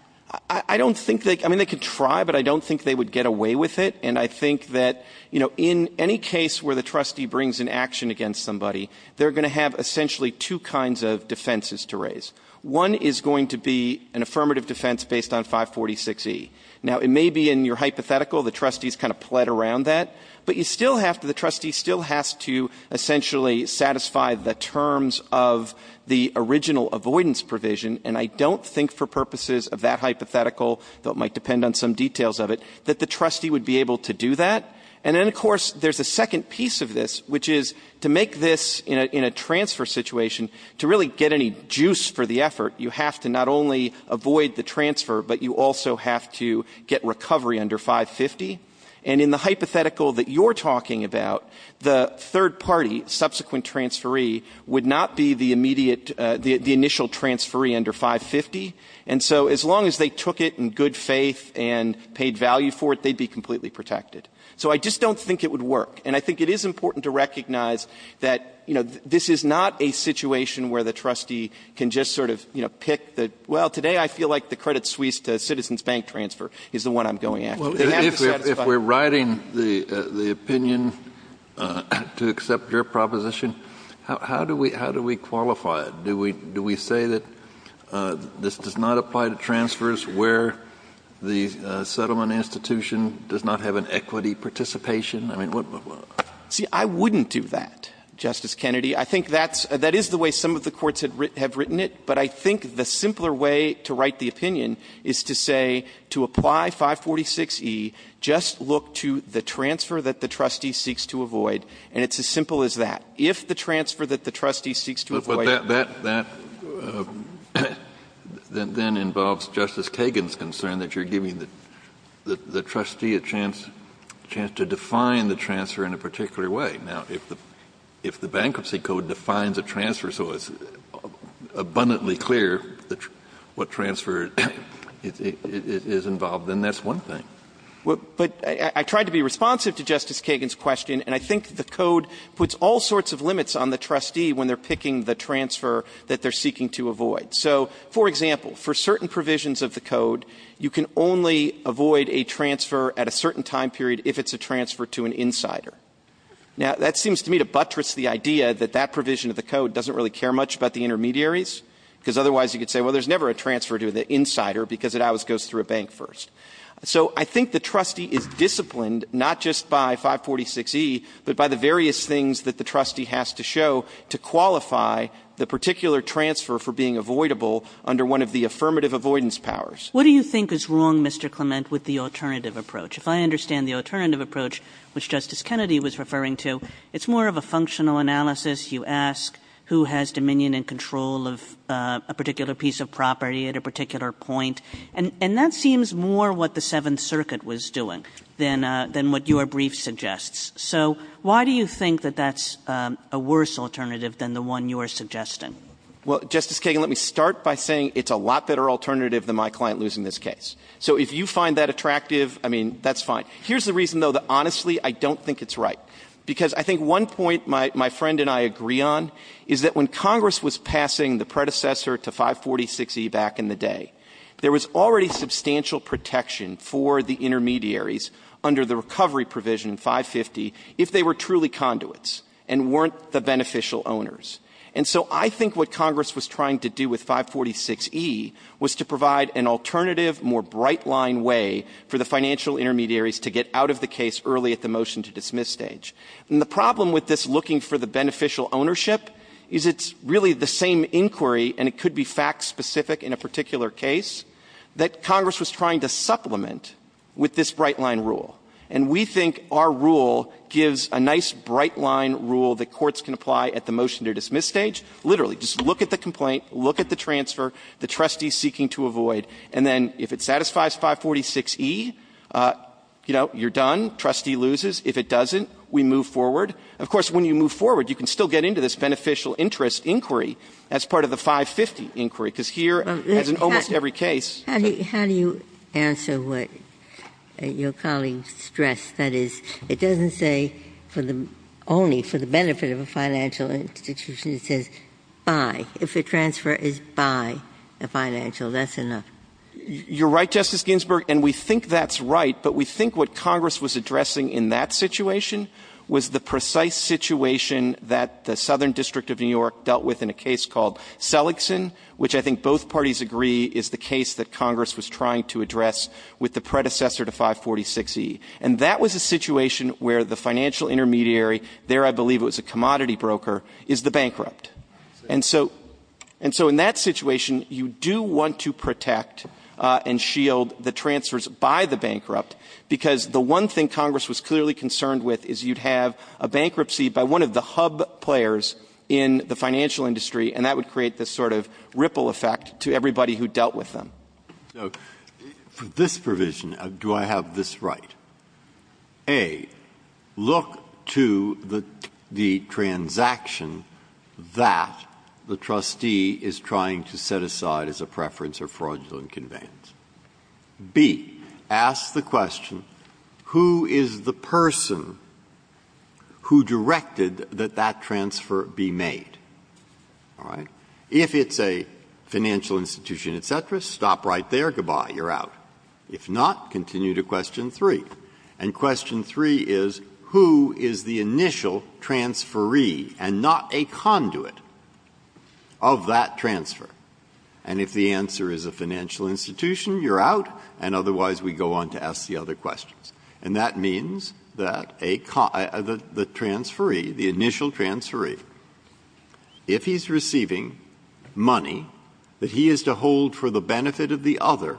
I don't think they could. I mean, they could try, but I don't think they would get away with it. And I think that in any case where the trustee brings an action against somebody, they're going to have essentially two kinds of defenses to raise. One is going to be an affirmative defense based on 546E. Now, it may be in your hypothetical, the trustee's kind of played around that. But you still have to, the trustee still has to essentially satisfy the terms of the original avoidance provision. And I don't think for purposes of that hypothetical, though it might depend on some details of it, that the trustee would be able to do that. And then, of course, there's a second piece of this, which is to make this in a transfer situation, to really get any juice for the effort, you have to not only avoid the transfer, but you also have to get recovery under 550. And in the hypothetical that you're talking about, the third party, subsequent transferee, would not be the immediate, the initial transferee under 550. And so as long as they took it in good faith and paid value for it, they'd be completely protected. So I just don't think it would work. And I think it is important to recognize that this is not a situation where the trustee can just sort of pick the, well, today I feel like the Credit Suisse to Citizens Bank transfer is the one I'm going after. They have to satisfy it. If we're writing the opinion to accept your proposition, how do we qualify it? Do we say that this does not apply to transfers where the settlement institution does not have an equity participation? I mean, what? See, I wouldn't do that, Justice Kennedy. I think that is the way some of the courts have written it. But I think the simpler way to write the opinion is to say, to apply 546e, just look to the transfer that the trustee seeks to avoid, and it's as simple as that. If the transfer that the trustee seeks to avoid the transfer that the trustee seeks to avoid. Kennedy, but that then involves Justice Kagan's concern that you're giving the trustee a chance to define the transfer in a particular way. Now, if the Bankruptcy Code defines a transfer so it's abundantly clear what transfer is involved, then that's one thing. But I tried to be responsive to Justice Kagan's question, and I think the Code puts all sorts of limits on the trustee when they're picking the transfer that they're seeking to avoid. So, for example, for certain provisions of the Code, you can only avoid a transfer at a certain time period if it's a transfer to an insider. Now, that seems to me to buttress the idea that that provision of the Code doesn't really care much about the intermediaries, because otherwise you could say, well, there's never a transfer to the insider because it always goes through a bank first. So I think the trustee is disciplined not just by 546e, but by the various things that the trustee has to show to qualify the particular transfer for being avoidable under one of the affirmative avoidance powers. Kagan. What do you think is wrong, Mr. Clement, with the alternative approach? If I understand the alternative approach, which Justice Kennedy was referring to, it's more of a functional analysis. You ask who has dominion and control of a particular piece of property at a particular point, and that seems more what the Seventh Circuit was doing than what your brief suggests. So why do you think that that's a worse alternative than the one you're suggesting? Clement. Well, Justice Kagan, let me start by saying it's a lot better alternative than my client losing this case. So if you find that attractive, I mean, that's fine. Here's the reason, though, that honestly I don't think it's right, because I think one point my friend and I agree on is that when Congress was passing the predecessor to 546e back in the day, there was already substantial protection for the intermediaries under the recovery provision, 550, if they were truly conduits and weren't the beneficial owners. And so I think what Congress was trying to do with 546e was to provide an alternative, more bright-line way for the financial intermediaries to get out of the case early at the motion-to-dismiss stage. And the problem with this looking for the beneficial ownership is it's really the same inquiry, and it could be fact-specific in a particular case, that Congress was trying to supplement with this bright-line rule. And we think our rule gives a nice bright-line rule that courts can apply at the motion-to-dismiss stage. Literally, just look at the complaint, look at the transfer, the trustees seeking to avoid, and then if it satisfies 546e, you know, you're done, trustee loses. If it doesn't, we move forward. Of course, when you move forward, you can still get into this beneficial interest inquiry as part of the 550 inquiry, because here, as in almost every case, there's a difference. Ginsburg. How do you answer what your colleague stressed? That is, it doesn't say for the only, for the benefit of a financial institution. It says, by, if a transfer is by a financial, that's enough. You're right, Justice Ginsburg, and we think that's right, but we think what Congress was addressing in that situation was the precise situation that the Southern District of New York dealt with in a case called Seligson, which I think both parties agree is the case that Congress was trying to address with the predecessor to 546e. And that was a situation where the financial intermediary, there I believe it was a commodity broker, is the bankrupt. And so, and so in that situation, you do want to protect and shield the transfers by the bankrupt, because the one thing Congress was clearly concerned with is you'd have a bankruptcy by one of the hub players in the financial industry, and that would create this sort of ripple effect to everybody who dealt with them. Breyer. So for this provision, do I have this right? A, look to the transaction that the trustee is trying to set aside as a preference or fraudulent conveyance. B, ask the question, who is the person who directed that that transfer be made? All right? If it's a financial institution, et cetera, stop right there, good-bye, you're out. If not, continue to question 3. And question 3 is, who is the initial transferee and not a conduit of that transfer? And if the answer is a financial institution, you're out, and otherwise we go on to ask the other questions. And that means that a con — the transferee, the initial transferee, if he's receiving money that he is to hold for the benefit of the other,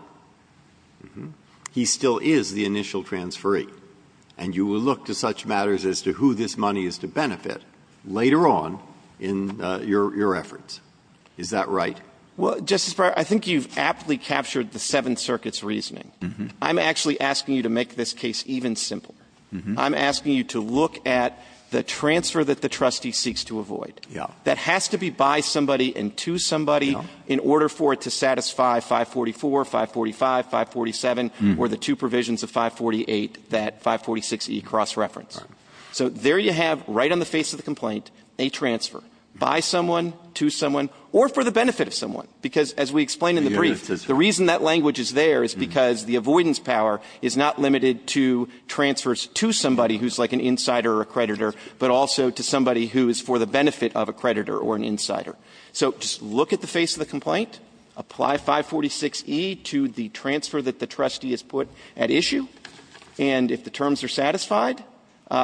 he still is the initial transferee, and you will look to such matters as to who this money is to benefit later on in your efforts. Is that right? Well, Justice Breyer, I think you've aptly captured the Seventh Circuit's reasoning. I'm actually asking you to make this case even simpler. I'm asking you to look at the transfer that the trustee seeks to avoid that has to be by somebody and to somebody in order for it to satisfy 544, 545, 547, or the two provisions of 548, that 546E cross-reference. So there you have, right on the face of the complaint, a transfer by someone, to someone, or for the benefit of someone. Because as we explained in the brief, the reason that language is there is because the avoidance power is not limited to transfers to somebody who's like an insider or a creditor, but also to somebody who is for the benefit of a creditor or an insider. So just look at the face of the complaint. Apply 546E to the transfer that the trustee has put at issue. And if the terms are satisfied,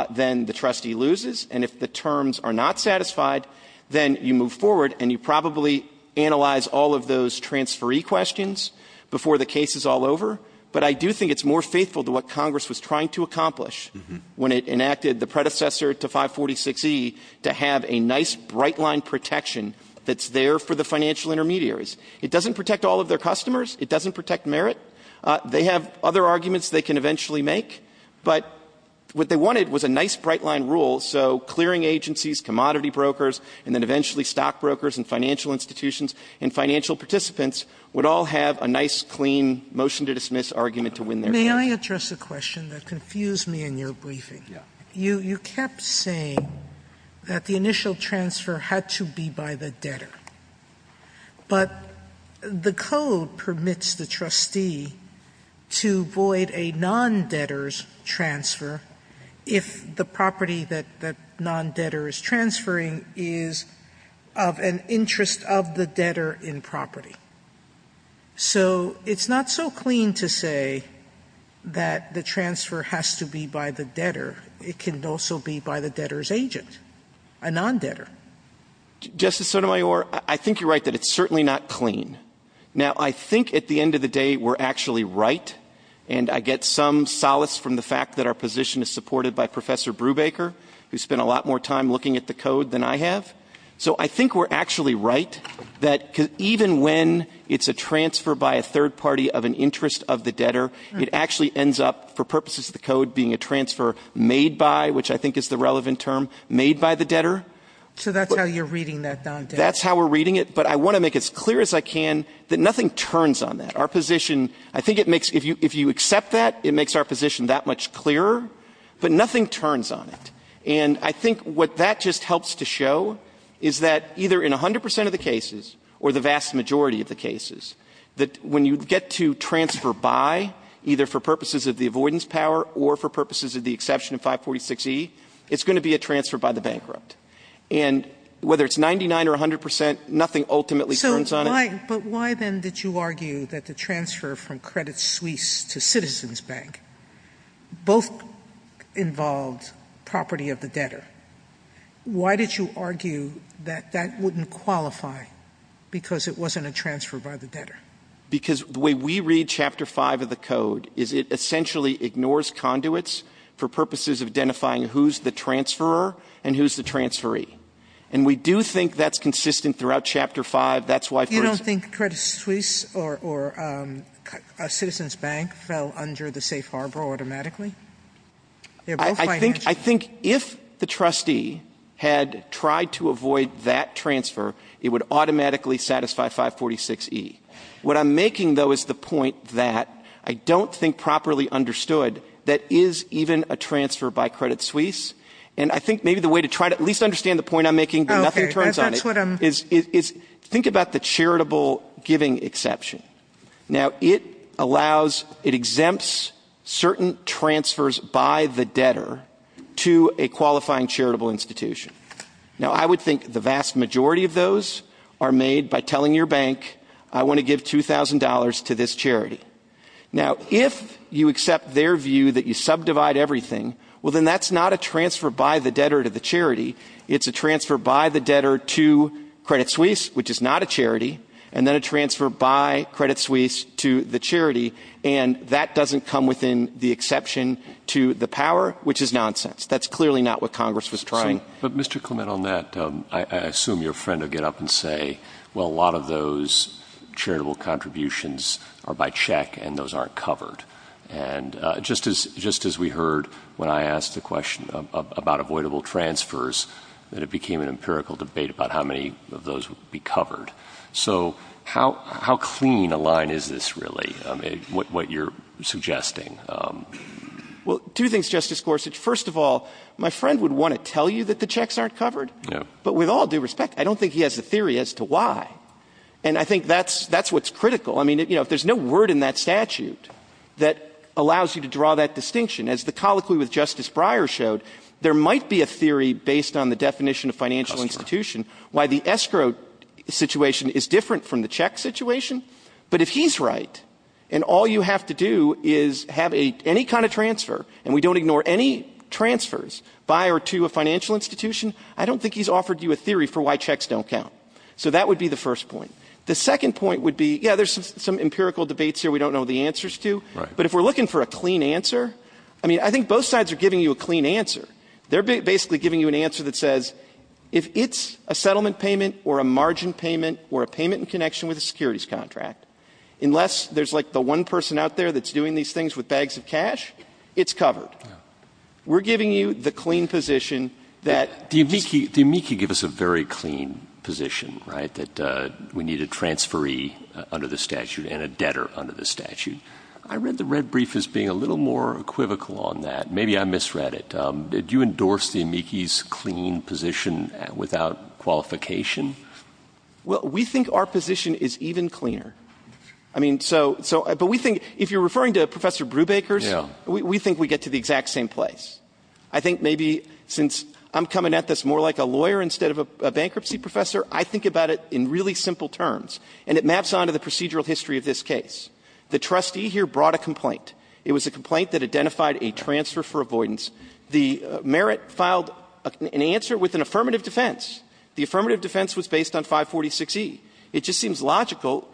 then the trustee loses. And if the terms are not satisfied, then you move forward and you probably analyze all of those transferee questions before the case is all over. But I do think it's more faithful to what Congress was trying to accomplish when it enacted the predecessor to 546E to have a nice, bright-line protection that's there for the financial intermediaries. It doesn't protect all of their customers. It doesn't protect merit. They have other arguments they can eventually make. But what they wanted was a nice, bright-line rule, so clearing agencies, commodity brokers, and then eventually stockbrokers and financial institutions and financial participants would all have a nice, clean motion-to-dismiss argument to win their case. Sotomayor, may I address a question that confused me in your briefing? You kept saying that the initial transfer had to be by the debtor. But the code permits the trustee to void a non-debtor's transfer if the property that the non-debtor is transferring is of an interest of the debtor in property. So it's not so clean to say that the transfer has to be by the debtor. It can also be by the debtor's agent, a non-debtor. Justice Sotomayor, I think you're right that it's certainly not clean. Now, I think at the end of the day we're actually right, and I get some solace from the fact that our position is supported by Professor Brubaker, who spent a lot more time looking at the code than I have. So I think we're actually right that even when it's a transfer by a third party of an interest of the debtor, it actually ends up, for purposes of the code, being a transfer made by, which I think is the relevant term, made by the debtor. So that's how you're reading that non-debtor? That's how we're reading it. But I want to make it as clear as I can that nothing turns on that. Our position, I think it makes, if you accept that, it makes our position that much clearer, but nothing turns on it. And I think what that just helps to show is that either in 100 percent of the cases or the vast majority of the cases, that when you get to transfer by, either for purposes of the avoidance power or for purposes of the exception of 546E, it's going to be a transfer by the bankrupt. And whether it's 99 or 100 percent, nothing ultimately turns on it. Sotomayor, but why then did you argue that the transfer from Credit Suisse to Citizens Bank both involved property of the debtor? Why did you argue that that wouldn't qualify because it wasn't a transfer by the debtor? Because the way we read Chapter 5 of the code is it essentially ignores conduits for purposes of identifying who's the transferor and who's the transferee. And we do think that's consistent throughout Chapter 5. That's why first of all you don't think Credit Suisse or Citizens Bank fell under the safe harbor automatically? They're both financial. I think if the trustee had tried to avoid that transfer, it would automatically satisfy 546E. What I'm making, though, is the point that I don't think properly understood that is even a transfer by Credit Suisse. And I think maybe the way to try to at least understand the point I'm making, but it's about the charitable giving exception. Now, it allows, it exempts certain transfers by the debtor to a qualifying charitable institution. Now, I would think the vast majority of those are made by telling your bank, I want to give $2,000 to this charity. Now, if you accept their view that you subdivide everything, well, then that's not a transfer by the debtor to the charity, it's a transfer by the debtor to Credit Suisse, which is not a charity, and then a transfer by Credit Suisse to the charity. And that doesn't come within the exception to the power, which is nonsense. That's clearly not what Congress was trying. But, Mr. Clement, on that, I assume your friend will get up and say, well, a lot of those charitable contributions are by check and those aren't covered. And just as we heard when I asked the question about avoidable transfers, that it became an empirical debate about how many of those would be covered. So how clean a line is this, really, what you're suggesting? Well, two things, Justice Gorsuch. First of all, my friend would want to tell you that the checks aren't covered. But with all due respect, I don't think he has a theory as to why. And I think that's what's critical. I mean, you know, if there's no word in that statute that allows you to draw that distinction, as the colloquy with Justice Breyer showed, there might be a theory based on the definition of financial institution, why the escrow situation is different from the check situation. But if he's right, and all you have to do is have any kind of transfer, and we don't ignore any transfers by or to a financial institution, I don't think he's offered you a theory for why checks don't count. So that would be the first point. The second point would be, yeah, there's some empirical debates here we don't know the answers to. But if we're looking for a clean answer, I mean, I think both sides are giving you a clean answer. They're basically giving you an answer that says, if it's a settlement payment or a margin payment or a payment in connection with a securities contract, unless there's, like, the one person out there that's doing these things with bags of cash, it's covered. We're giving you the clean position that this is a clean position, right, that we need a transferee under the statute and a debtor under the statute. I read the red brief as being a little more equivocal on that. Maybe I misread it. Do you endorse the amici's clean position without qualification? Well, we think our position is even cleaner. I mean, so we think if you're referring to Professor Brubaker's, we think we get to the exact same place. I think maybe since I'm coming at this more like a lawyer instead of a bankruptcy professor, I think about it in really simple terms. And it maps on to the procedural history of this case. The trustee here brought a complaint. It was a complaint that identified a transfer for avoidance. The merit filed an answer with an affirmative defense. The affirmative defense was based on 546E. It just seems logical,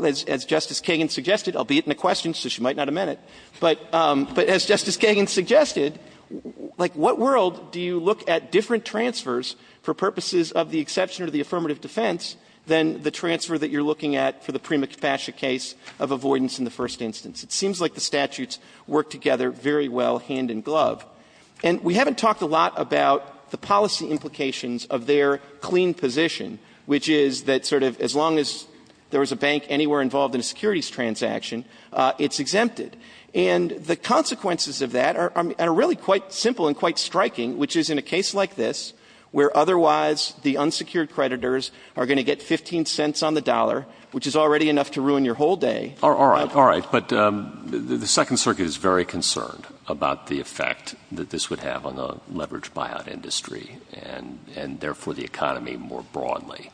as Justice Kagan suggested, albeit in a question, so she might not have meant it. But as Justice Kagan suggested, like, what world do you look at different transfers for purposes of the exception or the affirmative defense than the transfer that you're looking at for the prima facie case of avoidance in the first instance? It seems like the statutes work together very well hand in glove. And we haven't talked a lot about the policy implications of their clean position, which is that sort of as long as there was a bank anywhere involved in a securities transaction, it's exempted. And the consequences of that are really quite simple and quite striking, which is in a case like this, where otherwise the unsecured creditors are going to get 15 cents on the dollar, which is already enough to ruin your whole day. All right. All right. But the Second Circuit is very concerned about the effect that this would have on the leveraged buyout industry and therefore the economy more broadly.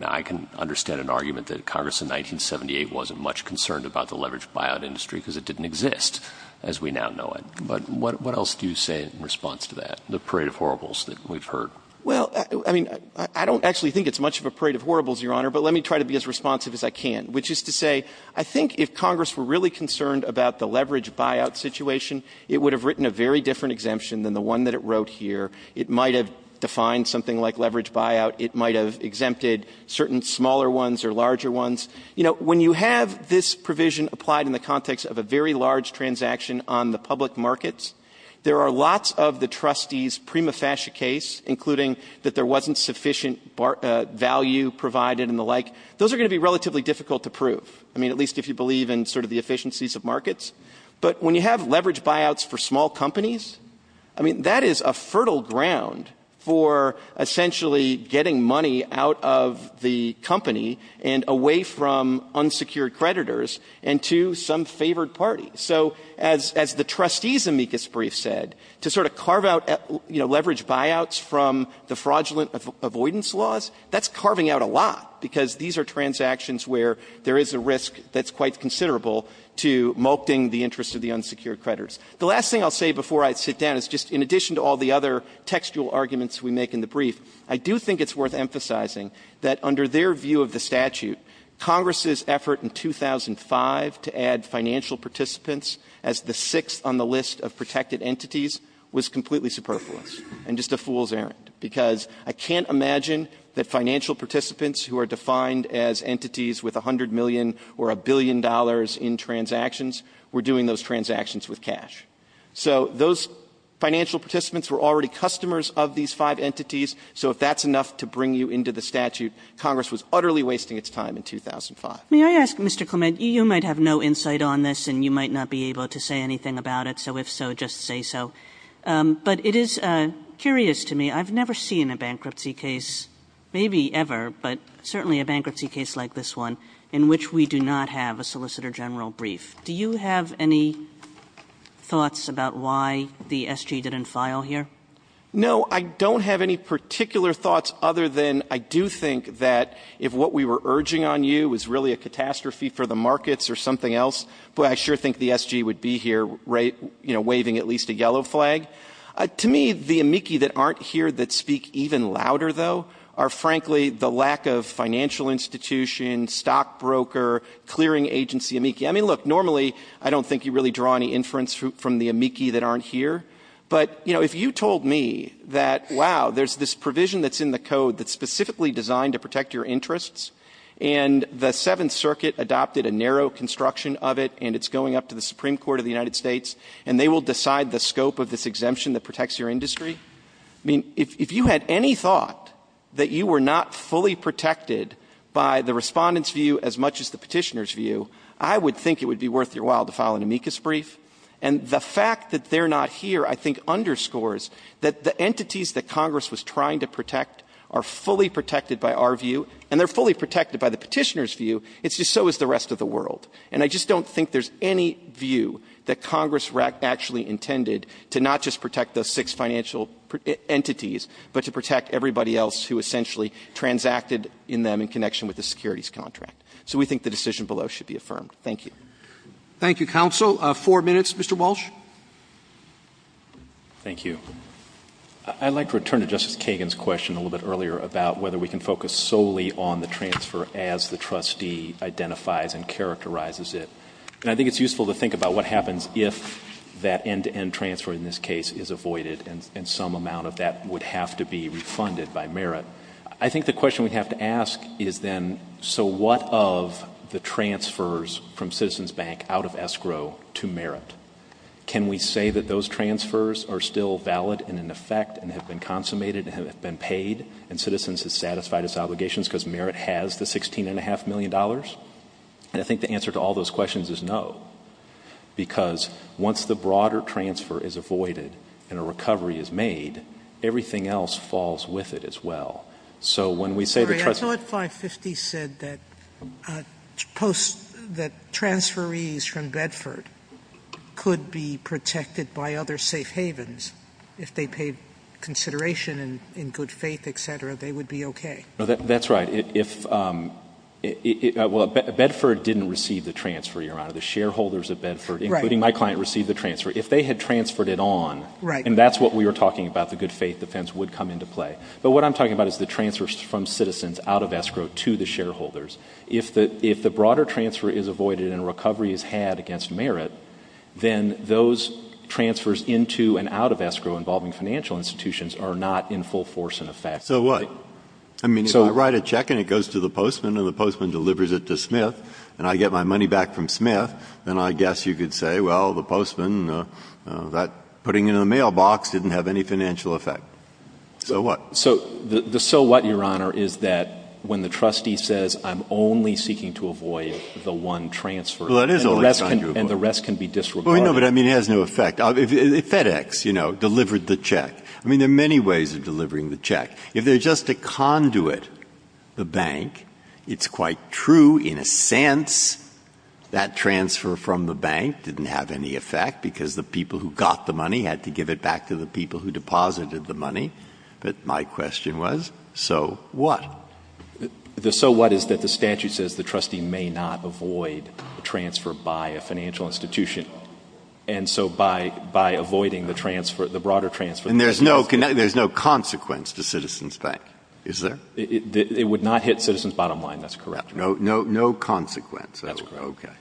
I can understand an argument that Congress in 1978 wasn't much concerned about the leveraged buyout industry because it didn't exist as we now know it. But what else do you say in response to that, the parade of horribles that we've heard? Well, I mean, I don't actually think it's much of a parade of horribles, Your Honor, but let me try to be as responsive as I can. Which is to say, I think if Congress were really concerned about the leveraged buyout situation, it would have written a very different exemption than the one that it wrote here. It might have defined something like leveraged buyout. It might have exempted certain smaller ones or larger ones. You know, when you have this provision applied in the context of a very large transaction on the public markets, there are lots of the trustees' prima facie case, including that there wasn't sufficient value provided and the like, those are going to be relatively difficult to prove. I mean, at least if you believe in sort of the efficiencies of markets. But when you have leveraged buyouts for small companies, I mean, that is a fertile ground for essentially getting money out of the company and away from unsecured creditors and to some favored party. So as the trustees' amicus brief said, to sort of carve out, you know, leveraged buyouts from the fraudulent avoidance laws, that's carving out a lot because these are transactions where there is a risk that's quite considerable to molting the interest of the unsecured creditors. The last thing I'll say before I sit down is just in addition to all the other textual arguments we make in the brief, I do think it's worth emphasizing that under their view of the statute, Congress's effort in 2005 to add financial participants as the sixth on the list of protected entities was completely superfluous and just a fool's errand, because I can't imagine that financial participants who are defined as entities with $100 million or $1 billion in transactions were doing those transactions with cash. So those financial participants were already customers of these five entities, so if that's enough to bring you into the statute, Congress was utterly wasting its time in 2005. Kagan. May I ask, Mr. Clement, you might have no insight on this, and you might not be able to say anything about it, so if so, just say so. But it is curious to me, I've never seen a bankruptcy case, maybe ever, but certainly a bankruptcy case like this one in which we do not have a Solicitor General brief. Do you have any thoughts about why the SG didn't file here? No, I don't have any particular thoughts other than I do think that if what we were urging on you was really a catastrophe for the markets or something else, boy, I sure think the SG would be here waving at least a yellow flag. To me, the amici that aren't here that speak even louder, though, are frankly the lack of financial institution, stockbroker, clearing agency amici. I mean, look, normally I don't think you really draw any inference from the amici that aren't here, but if you told me that, wow, there's this provision that's in the code that's specifically designed to protect your interests, and the Seventh Circuit adopted a narrow construction of it, and it's going up to the Supreme Court of the United States, and they will decide the scope of this exemption that protects your view as much as the Petitioner's view, I would think it would be worth your while to file an amicus brief. And the fact that they're not here, I think, underscores that the entities that Congress was trying to protect are fully protected by our view, and they're fully protected by the Petitioner's view. It's just so is the rest of the world. And I just don't think there's any view that Congress actually intended to not just protect those six financial entities, but to protect everybody else who essentially transacted in them in connection with the securities contract. So we think the decision below should be affirmed. Thank you. Thank you, counsel. Four minutes. Mr. Walsh. Thank you. I'd like to return to Justice Kagan's question a little bit earlier about whether we can focus solely on the transfer as the trustee identifies and characterizes it. And I think it's useful to think about what happens if that end-to-end transfer in this case is avoided, and some amount of that would have to be refunded by merit. I think the question we'd have to ask is then, so what of the transfers from Citizens Bank out of escrow to merit? Can we say that those transfers are still valid and in effect and have been consummated and have been paid, and Citizens has satisfied its obligations because merit has the $16.5 million? And I think the answer to all those questions is no. Because once the broader transfer is avoided and a recovery is made, everything else falls with it as well. So when we say the trustee — Sorry. I thought 550 said that post — that transferees from Bedford could be protected by other safe havens. If they paid consideration and in good faith, et cetera, they would be okay. No, that's right. If — well, Bedford didn't receive the transfer, Your Honor. The shareholders of Bedford, including my client, received the transfer. If they had transferred it on — Right. And that's what we were talking about, the good faith defense would come into play. But what I'm talking about is the transfers from citizens out of escrow to the shareholders. If the broader transfer is avoided and a recovery is had against merit, then those transfers into and out of escrow involving financial institutions are not in full force and effect. So what? I mean, if I write a check and it goes to the postman and the postman delivers it to Smith and I get my money back from Smith, then I guess you could say, well, the mailbox didn't have any financial effect. So what? So the so what, Your Honor, is that when the trustee says, I'm only seeking to avoid the one transfer — Well, that is only trying to avoid — And the rest can be disregarded. Well, no, but I mean, it has no effect. FedEx, you know, delivered the check. I mean, there are many ways of delivering the check. If they're just to conduit the bank, it's quite true in a sense that transfer from the bank didn't have any effect because the people who got the money had to give it back to the people who deposited the money. But my question was, so what? The so what is that the statute says the trustee may not avoid transfer by a financial institution. And so by avoiding the transfer, the broader transfer — And there's no consequence to Citizens Bank, is there? It would not hit Citizens' bottom line. That's correct. No consequence. That's correct. Okay.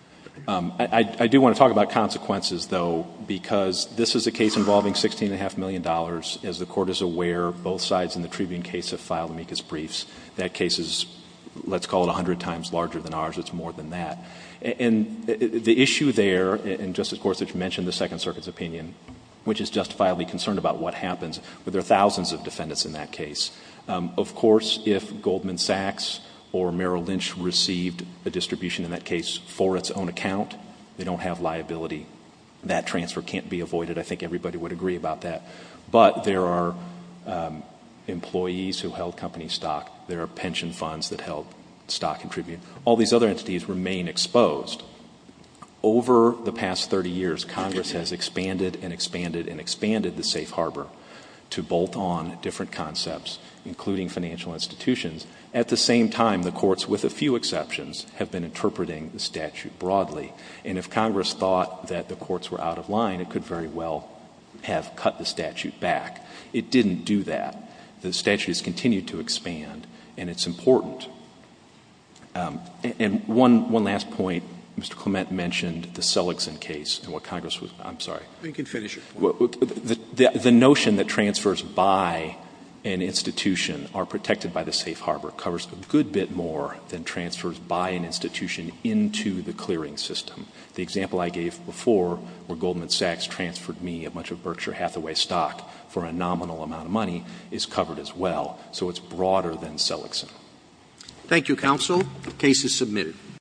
I do want to talk about consequences, though, because this is a case involving $16.5 million. As the Court is aware, both sides in the Tribune case have filed amicus briefs. That case is, let's call it, 100 times larger than ours. It's more than that. And the issue there — and Justice Gorsuch mentioned the Second Circuit's opinion, which is justifiably concerned about what happens, but there are thousands of defendants in that case. Of course, if Goldman Sachs or Merrill Lynch received a distribution in that case for its own account, they don't have liability. That transfer can't be avoided. I think everybody would agree about that. But there are employees who held company stock. There are pension funds that held stock in Tribune. All these other entities remain exposed. Over the past 30 years, Congress has expanded and expanded and expanded the safe harbor to bolt on different concepts, including financial institutions. At the same time, the Courts, with a few exceptions, have been interpreting the statute broadly. And if Congress thought that the Courts were out of line, it could very well have cut the statute back. It didn't do that. The statute has continued to expand, and it's important. And one last point. Mr. Clement mentioned the Seligson case and what Congress was — I'm sorry. JUSTICE SCALIA. You can finish your point. The notion that transfers by an institution are protected by the safe harbor covers a good bit more than transfers by an institution into the clearing system. The example I gave before, where Goldman Sachs transferred me a bunch of Berkshire Hathaway stock for a nominal amount of money, is covered as well. So it's broader than Seligson. CHIEF JUSTICE ROBERTS. Thank you, counsel. The case is submitted.